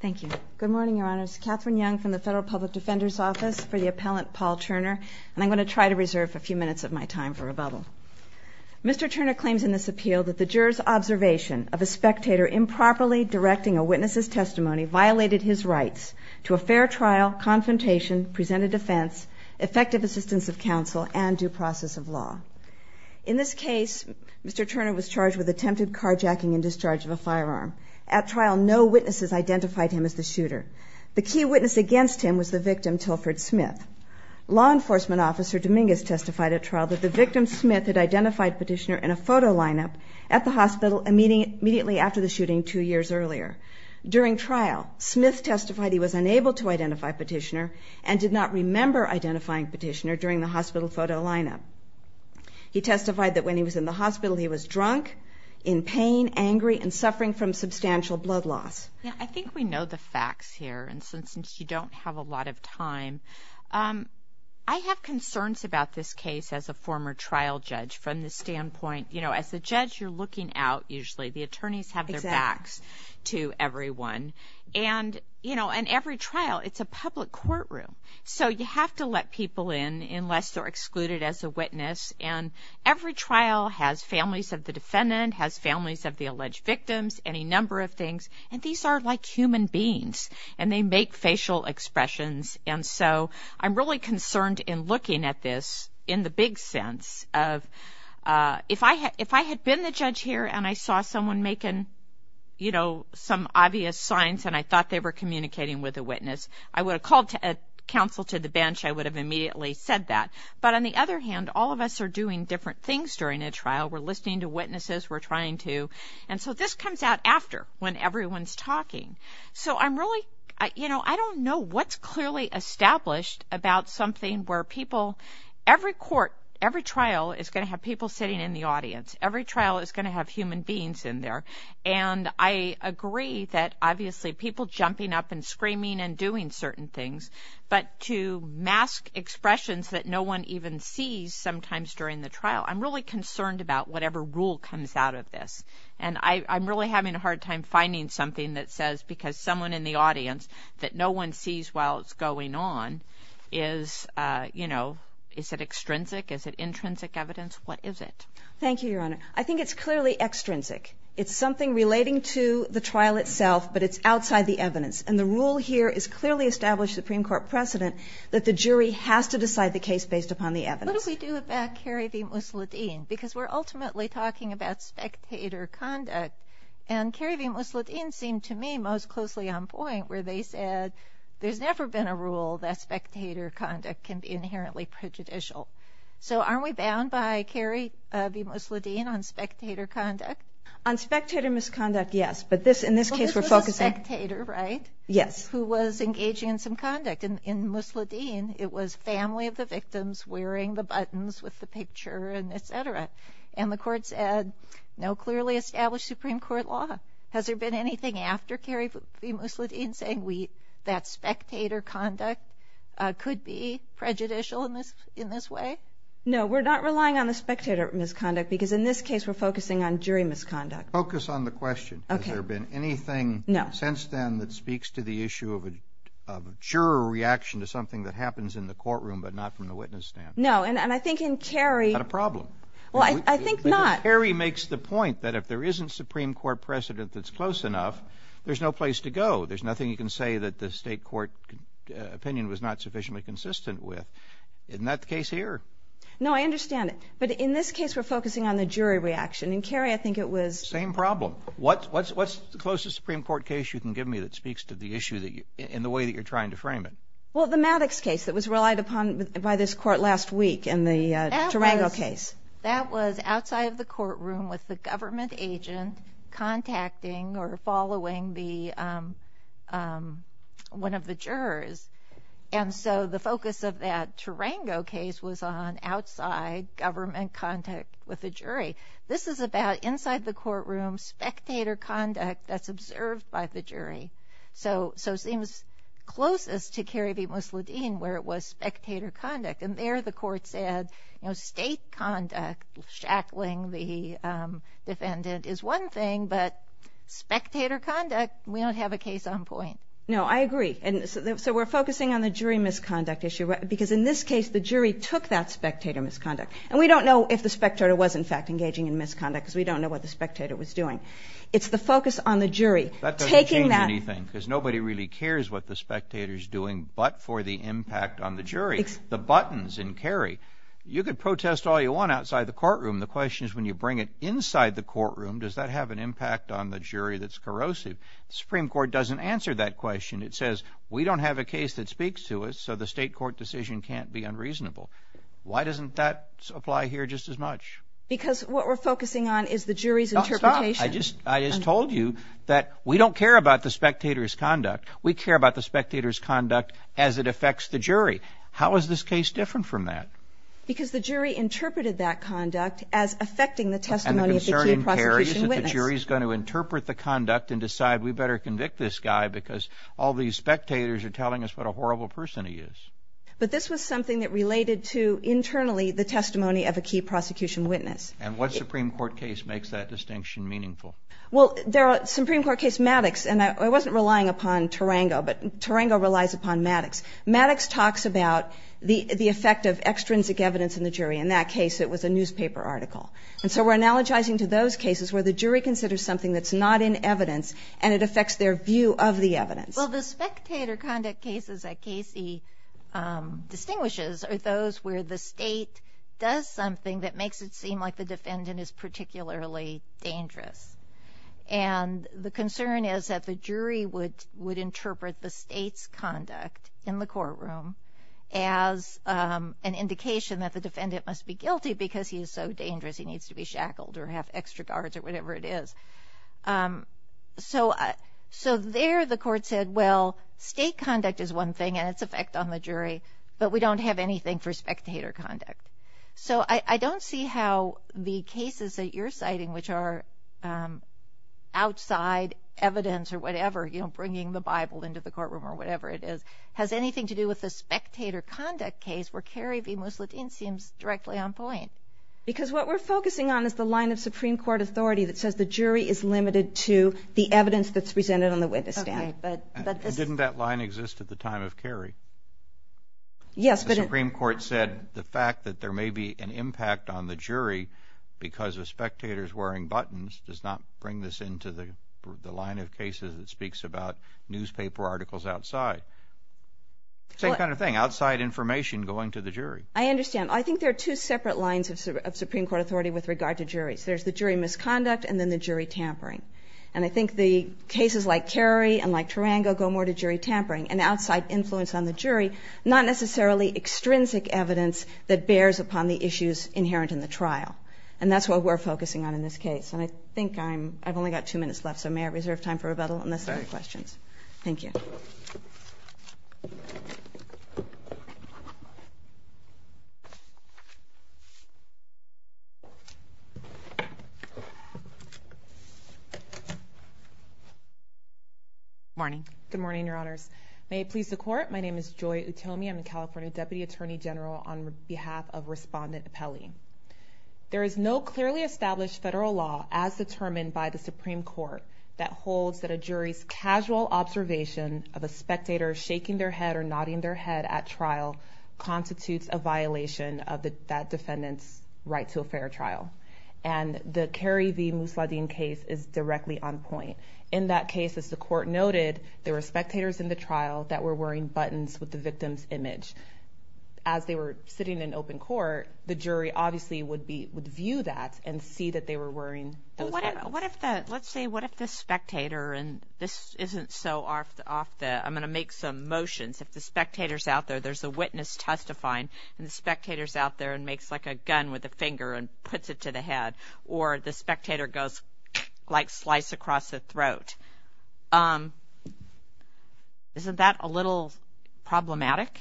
Thank you. Good morning, Your Honors. Katherine Young from the Federal Public Defender's Office for the Appellant Paul Turner, and I'm going to try to reserve a few minutes of my time for rebuttal. Mr. Turner claims in this appeal that the juror's observation of a spectator improperly directing a witness's testimony violated his rights to a fair trial, confrontation, presented defense, effective assistance of counsel, and due process of law. In this case, Mr. Turner was charged with attempted carjacking and discharge of a firearm. At trial, no witnesses identified him as the shooter. The key witness against him was the victim, Tilford Smith. Law enforcement officer Dominguez testified at trial that the victim, Smith, had identified Petitioner in a photo lineup at the hospital immediately after the shooting two years earlier. During trial, Smith testified he was unable to identify Petitioner and did not remember identifying Petitioner during the hospital photo lineup. He testified that when he was in the hospital, he was drunk, in pain, angry, and suffering from substantial blood loss. I think we know the facts here, and since you don't have a lot of time, I have concerns about this case as a former trial judge from the standpoint, you know, as a judge, you're looking out, usually. The attorneys have their backs to everyone, and, you know, in every trial, it's a public courtroom, so you have to let people in unless they're excluded as a witness, and every trial has families of the defendant, has families of the alleged victims, any number of things, and these are like human beings, and they make facial expressions, and so I'm really concerned in looking at this in the big sense of, if I had been the judge here, and I saw someone making, you know, some obvious signs, and I thought they were communicating with a witness, I would have called a counsel to the bench. I would have immediately said that, but on the other hand, all of us are doing different things during a trial. We're listening to witnesses. We're trying to, and so this comes out after when everyone's talking, so I'm really, you know, I don't know what's clearly established about something where people, every court, every trial is going to have people sitting in the audience. Every trial is going to have human beings in there, and I agree that, obviously, people jumping up and screaming and doing certain things, but to mask expressions that no one even sees sometimes during the trial, I'm really concerned about whatever rule comes out of this, and I'm really having a hard time finding something that says, because someone in the audience that no one sees while it's going on is, you know, is it extrinsic? Is it intrinsic evidence? What is it? Thank you, Your Honor. I think it's clearly extrinsic. It's something relating to the trial itself, but it's outside the evidence, and the rule here is clearly established Supreme Court precedent that the jury has to decide the case based upon the evidence. What do we do about Kerry v. Mussolini? Because we're ultimately talking about spectator conduct, and Kerry v. Mussolini seemed to me most closely on point where they said there's never been a rule that spectator conduct can be inherently prejudicial. So aren't we bound by Kerry v. Mussolini on spectator conduct? On spectator misconduct, yes, but in this case, we're focusing… Well, this was a spectator, right? Yes. Who was engaging in some conduct, and in Mussolini, it was family of the victims wearing the buttons with the picture and et cetera, and the court said no clearly established Supreme Court law. Has there been anything after Kerry v. Mussolini in saying that spectator conduct could be prejudicial in this way? No, we're not relying on the spectator misconduct because in this case, we're focusing on jury misconduct. Focus on the question. Okay. Has there been anything… No. …since then that speaks to the issue of a juror reaction to something that happens in the courtroom but not from the witness stand? No, and I think in Kerry… Not a problem. Well, I think not. Kerry makes the point that if there isn't Supreme Court precedent that's close enough, there's no place to go. There's nothing you can say that the state court opinion was not sufficiently consistent with. Isn't that the case here? No, I understand it, but in this case, we're focusing on the jury reaction, and Kerry, I think it was… Same problem. What's the closest Supreme Court case you can give me that speaks to the issue in the way that you're trying to frame it? Well, the Maddox case that was relied upon by this court last week in the Durango case. That was outside of the courtroom with the government agent contacting or following one of the jurors, and so the focus of that Durango case was on outside government contact with the jury. This is about inside the courtroom spectator conduct that's observed by the jury, so it seems closest to Kerry v. Musladeen where it was spectator conduct, and there the court said state conduct, shackling the defendant is one thing, but spectator conduct, we don't have a case on point. No, I agree, and so we're focusing on the jury misconduct issue, because in this case the jury took that spectator misconduct, and we don't know if the spectator was, in fact, engaging in misconduct because we don't know what the spectator was doing. It's the focus on the jury taking that… That doesn't change anything because nobody really cares what the spectator's doing but for the impact on the jury. The buttons in Kerry, you could protest all you want outside the courtroom. The question is when you bring it inside the courtroom, does that have an impact on the jury that's corrosive? The Supreme Court doesn't answer that question. It says we don't have a case that speaks to us, so the state court decision can't be unreasonable. Why doesn't that apply here just as much? Because what we're focusing on is the jury's interpretation. Stop, stop. I just told you that we don't care about the spectator's conduct. We care about the spectator's conduct as it affects the jury. How is this case different from that? Because the jury interpreted that conduct as affecting the testimony of the key prosecution witness. And the concern in Kerry is that the jury is going to interpret the conduct and decide we better convict this guy because all these spectators are telling us what a horrible person he is. But this was something that related to, internally, the testimony of a key prosecution witness. And what Supreme Court case makes that distinction meaningful? Well, the Supreme Court case Maddox, and I wasn't relying upon Tarango, but Tarango relies upon Maddox. Maddox talks about the effect of extrinsic evidence in the jury. In that case, it was a newspaper article. And so we're analogizing to those cases where the jury considers something that's not in evidence and it affects their view of the evidence. Well, the spectator conduct cases that Casey distinguishes are those where the state does something that makes it seem like the defendant is particularly dangerous. And the concern is that the jury would interpret the state's conduct in the courtroom as an indication that the defendant must be guilty because he is so dangerous he needs to be shackled or have extra guards or whatever it is. So there the court said, well, state conduct is one thing and its effect on the jury, but we don't have anything for spectator conduct. So I don't see how the cases that you're citing, which are outside evidence or whatever, you know, bringing the Bible into the courtroom or whatever it is, has anything to do with the spectator conduct case where Kerry v. Musladeen seems directly on point. Because what we're focusing on is the line of Supreme Court authority that says the jury is limited to the evidence that's presented on the witness stand. Didn't that line exist at the time of Kerry? Yes. The Supreme Court said the fact that there may be an impact on the jury because of spectators wearing buttons does not bring this into the line of cases that speaks about newspaper articles outside. Same kind of thing, outside information going to the jury. I understand. I think there are two separate lines of Supreme Court authority with regard to juries. There's the jury misconduct and then the jury tampering. And I think the cases like Kerry and like Tarango go more to jury tampering and outside influence on the jury, not necessarily extrinsic evidence that bears upon the issues inherent in the trial. And that's what we're focusing on in this case. And I think I've only got two minutes left, so may I reserve time for rebuttal unless there are questions? Thank you. Morning. Good morning, Your Honors. May it please the Court. My name is Joy Utomi. I'm the California Deputy Attorney General on behalf of Respondent Pelley. There is no clearly established federal law as determined by the Supreme Court that holds that a jury's casual observation of a spectator shaking their head or nodding their head at trial constitutes a violation of that defendant's right to a fair trial. And the Kerry v. Musladeen case is directly on point. In that case, as the Court noted, there were spectators in the trial that were wearing buttons with the victim's image. As they were sitting in open court, the jury obviously would view that and see that they were wearing those buttons. Let's say, what if the spectator, and this isn't so off the, I'm going to make some motions. If the spectator's out there, there's a witness testifying, and the spectator's out there and makes like a gun with a finger and puts it to the head, or the spectator goes like slice across the throat. Isn't that a little problematic?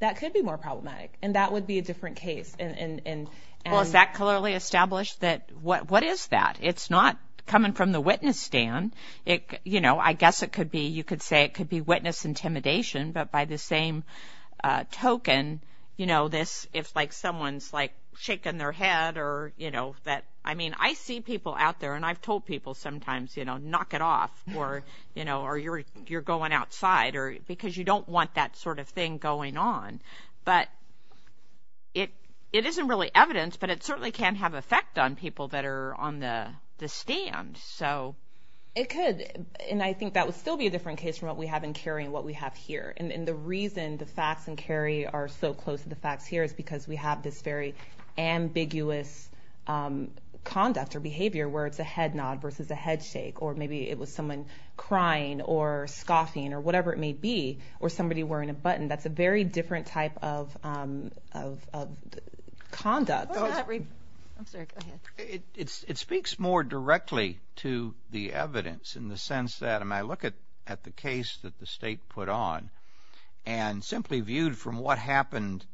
That could be more problematic, and that would be a different case. Well, is that clearly established? What is that? It's not coming from the witness stand. I guess you could say it could be witness intimidation, but by the same token, if someone's shaking their head. I mean, I see people out there, and I've told people sometimes, knock it off or you're going outside because you don't want that sort of thing going on. But it isn't really evidence, but it certainly can have an effect on people that are on the stand. It could, and I think that would still be a different case from what we have in Cary and what we have here. And the reason the facts in Cary are so close to the facts here is because we have this very ambiguous conduct or behavior where it's a head nod versus a head shake, or maybe it was someone crying or scoffing or whatever it may be, or somebody wearing a button. That's a very different type of conduct. It speaks more directly to the evidence in the sense that, when I look at the case that the state put on, and simply viewed from what happened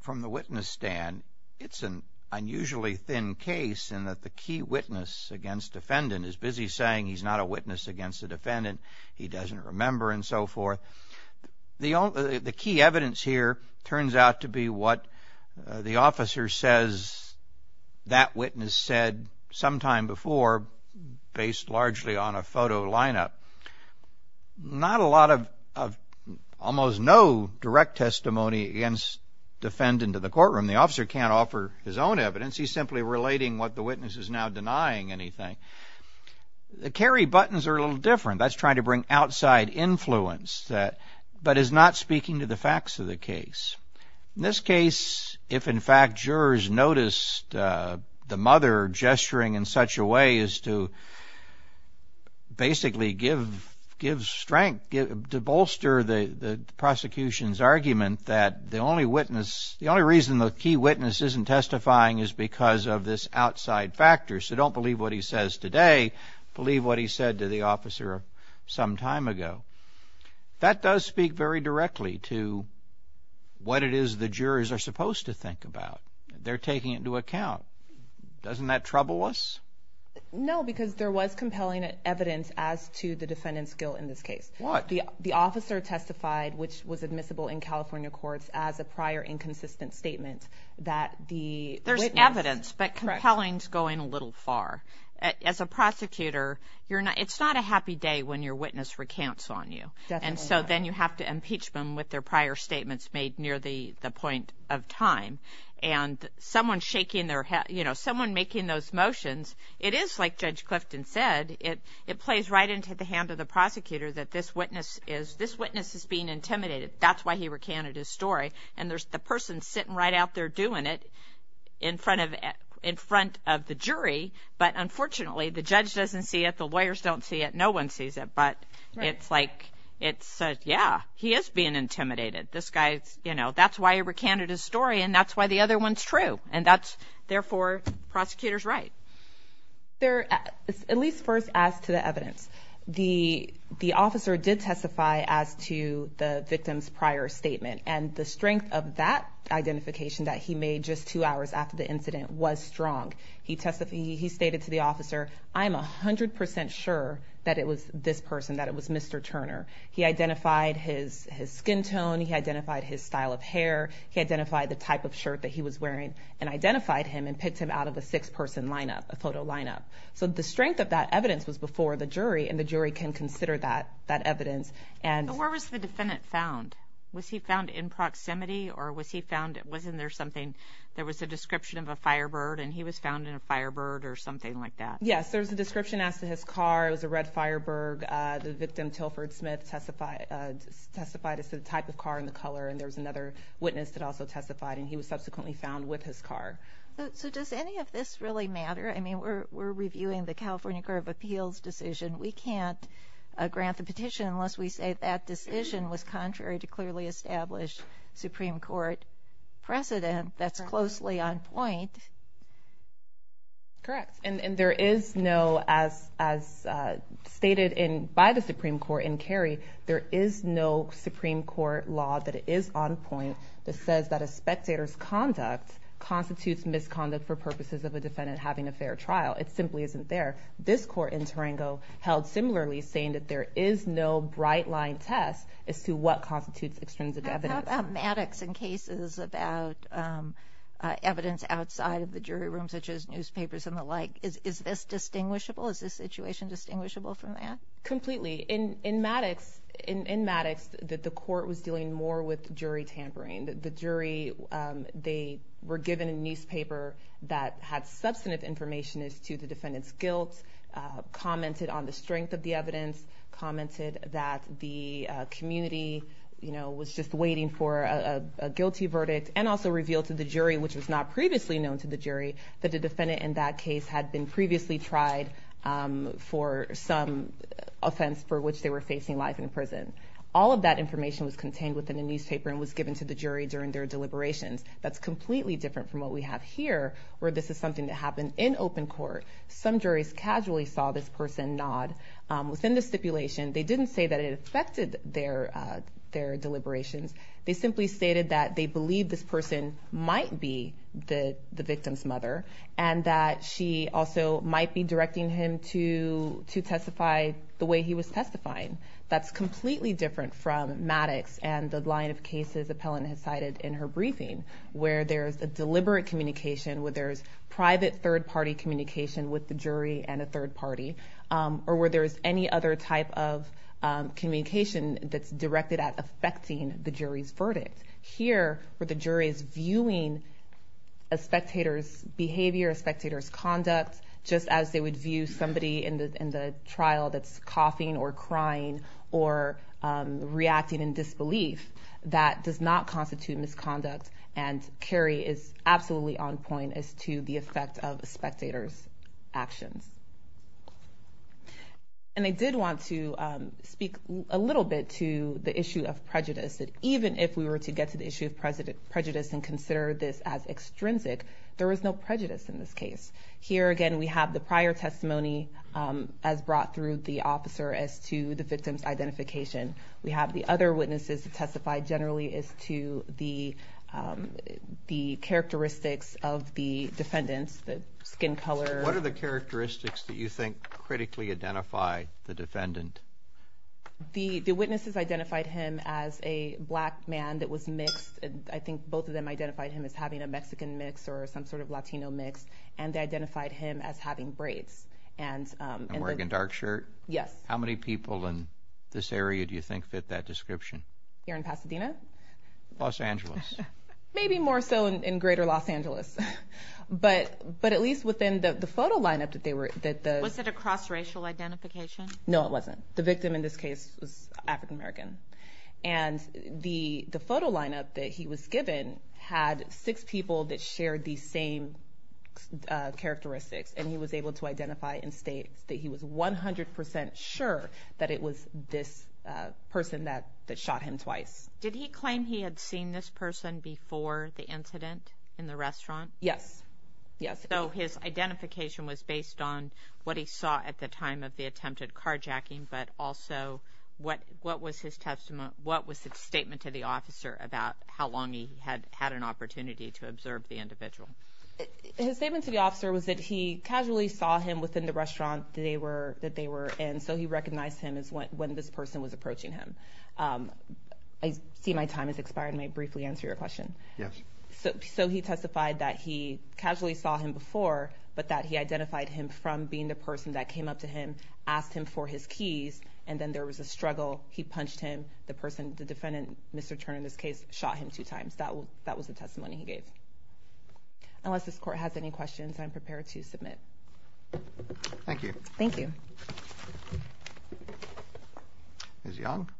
from the witness stand, it's an unusually thin case in that the key witness against defendant is busy saying he's not a witness against the defendant, he doesn't remember, and so forth. The key evidence here turns out to be what the officer says that witness said sometime before, based largely on a photo lineup. Not a lot of, almost no direct testimony against defendant in the courtroom. The officer can't offer his own evidence. He's simply relating what the witness is now denying anything. The Cary buttons are a little different. That's trying to bring outside influence, but is not speaking to the facts of the case. In this case, if in fact jurors noticed the mother gesturing in such a way as to basically give strength, to bolster the prosecution's argument that the only reason the key witness isn't testifying is because of this outside factor, so don't believe what he says today, believe what he said to the officer some time ago. That does speak very directly to what it is the jurors are supposed to think about. They're taking it into account. Doesn't that trouble us? No, because there was compelling evidence as to the defendant's guilt in this case. What? The officer testified, which was admissible in California courts, as a prior inconsistent statement that the witness... There's evidence, but compelling's going a little far. As a prosecutor, it's not a happy day when your witness recounts on you. Definitely not. Then you have to impeach them with their prior statements made near the point of time. Someone making those motions, it is like Judge Clifton said, it plays right into the hand of the prosecutor that this witness is being intimidated. That's why he recanted his story. And there's the person sitting right out there doing it in front of the jury, but unfortunately the judge doesn't see it, the lawyers don't see it, no one sees it. But it's like, yeah, he is being intimidated. That's why he recanted his story, and that's why the other one's true. Therefore, the prosecutor's right. At least first as to the evidence, the officer did testify as to the victim's prior statement, and the strength of that identification that he made just two hours after the incident was strong. He stated to the officer, I'm 100% sure that it was this person, that it was Mr. Turner. He identified his skin tone, he identified his style of hair, he identified the type of shirt that he was wearing, and identified him and picked him out of a six-person lineup, a photo lineup. So the strength of that evidence was before the jury, and the jury can consider that evidence. Where was the defendant found? Was he found in proximity, or was he found, wasn't there something, there was a description of a firebird, and he was found in a firebird or something like that? Yes, there was a description as to his car. It was a red firebird. The victim, Tilford Smith, testified as to the type of car and the color, and there was another witness that also testified, and he was subsequently found with his car. So does any of this really matter? I mean, we're reviewing the California Court of Appeals decision. We can't grant the petition unless we say that decision was contrary to clearly established Supreme Court precedent that's closely on point. Correct, and there is no, as stated by the Supreme Court in Kerry, there is no Supreme Court law that is on point that says that a spectator's conduct constitutes misconduct for purposes of a defendant having a fair trial. It simply isn't there. This court in Tarango held similarly, saying that there is no bright-line test as to what constitutes extrinsic evidence. How about Maddox in cases about evidence outside of the jury room, such as newspapers and the like? Is this distinguishable? Is this situation distinguishable from that? Completely. In Maddox, the court was dealing more with jury tampering. The jury, they were given a newspaper that had substantive information as to the defendant's guilt, commented on the strength of the evidence, commented that the community was just waiting for a guilty verdict, and also revealed to the jury, which was not previously known to the jury, that the defendant in that case had been previously tried for some offense for which they were facing life in prison. All of that information was contained within the newspaper and was given to the jury during their deliberations. That's completely different from what we have here, where this is something that happened in open court. Some juries casually saw this person nod. Within the stipulation, they didn't say that it affected their deliberations. They simply stated that they believed this person might be the victim's mother and that she also might be directing him to testify the way he was testifying. That's completely different from Maddox and the line of cases Appellant has cited in her briefing, where there's a deliberate communication, where there's private third-party communication with the jury and a third party, or where there's any other type of communication that's directed at affecting the jury's verdict. Here, where the jury is viewing a spectator's behavior, a spectator's conduct, just as they would view somebody in the trial that's coughing or crying or reacting in disbelief, that does not constitute misconduct, and Kerry is absolutely on point as to the effect of a spectator's actions. And I did want to speak a little bit to the issue of prejudice, that even if we were to get to the issue of prejudice and consider this as extrinsic, there was no prejudice in this case. Here, again, we have the prior testimony as brought through the officer as to the victim's identification. We have the other witnesses who testified generally as to the characteristics of the defendants, the skin color. What are the characteristics that you think critically identify the defendant? The witnesses identified him as a black man that was mixed. I think both of them identified him as having a Mexican mix or some sort of Latino mix, and they identified him as having braids. And wearing a dark shirt? Yes. How many people in this area do you think fit that description? Here in Pasadena? Los Angeles. Maybe more so in greater Los Angeles, but at least within the photo lineup that they were... Was it a cross-racial identification? No, it wasn't. The victim in this case was African American, and the photo lineup that he was given had six people that shared these same characteristics, and he was able to identify and state that he was 100 percent sure that it was this person that shot him twice. Did he claim he had seen this person before the incident in the restaurant? Yes, yes. So his identification was based on what he saw at the time of the attempted carjacking, but also what was his statement to the officer about how long he had had an opportunity to observe the individual? His statement to the officer was that he casually saw him within the restaurant that they were in, so he recognized him as when this person was approaching him. I see my time has expired, and may I briefly answer your question? Yes. So he testified that he casually saw him before, but that he identified him from being the person that came up to him, asked him for his keys, and then there was a struggle. He punched him. The person, the defendant, Mr. Turner in this case, shot him two times. That was the testimony he gave. Unless this Court has any questions, I'm prepared to submit. Thank you. Thank you. Ms. Young?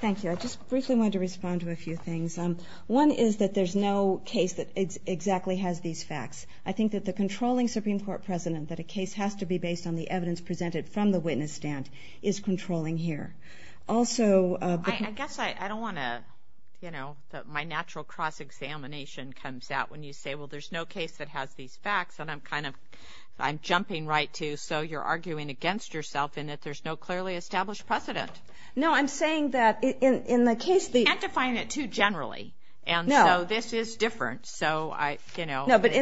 Thank you. I just briefly wanted to respond to a few things. One is that there's no case that exactly has these facts. I think that the controlling Supreme Court precedent that a case has to be based on the evidence presented from the witness stand is controlling here. I guess I don't want to, you know, that my natural cross-examination comes out when you say, well, there's no case that has these facts, and I'm kind of, I'm jumping right to, so you're arguing against yourself in that there's no clearly established precedent. No, I'm saying that in the case the – You can't define it too generally. No. And so this is different, so I, you know – No, but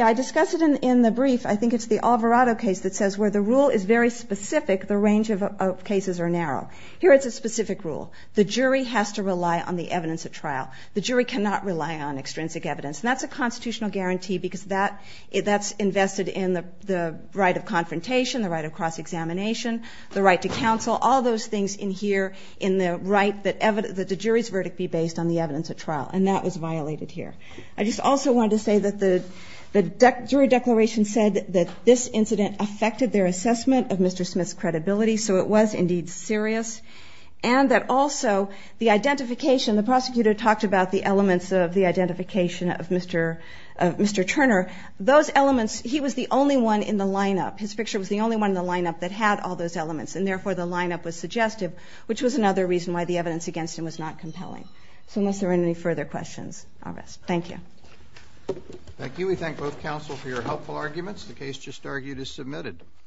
I discussed it in the brief. I think it's the Alvarado case that says where the rule is very specific, the range of cases are narrow. Here it's a specific rule. The jury has to rely on the evidence at trial. The jury cannot rely on extrinsic evidence, and that's a constitutional guarantee because that's invested in the right of confrontation, the right of cross-examination, the right to counsel, all those things in here in the right that the jury's verdict be based on the evidence at trial, and that was violated here. I just also wanted to say that the jury declaration said that this incident affected their assessment of Mr. Smith's credibility, so it was indeed serious, and that also the identification, the prosecutor talked about the elements of the identification of Mr. Turner. Those elements, he was the only one in the lineup. His picture was the only one in the lineup that had all those elements, and therefore the lineup was suggestive, which was another reason why the evidence against him was not compelling. So unless there are any further questions, I'll rest. Thank you. Thank you. We thank both counsel for your helpful arguments. The case just argued is submitted.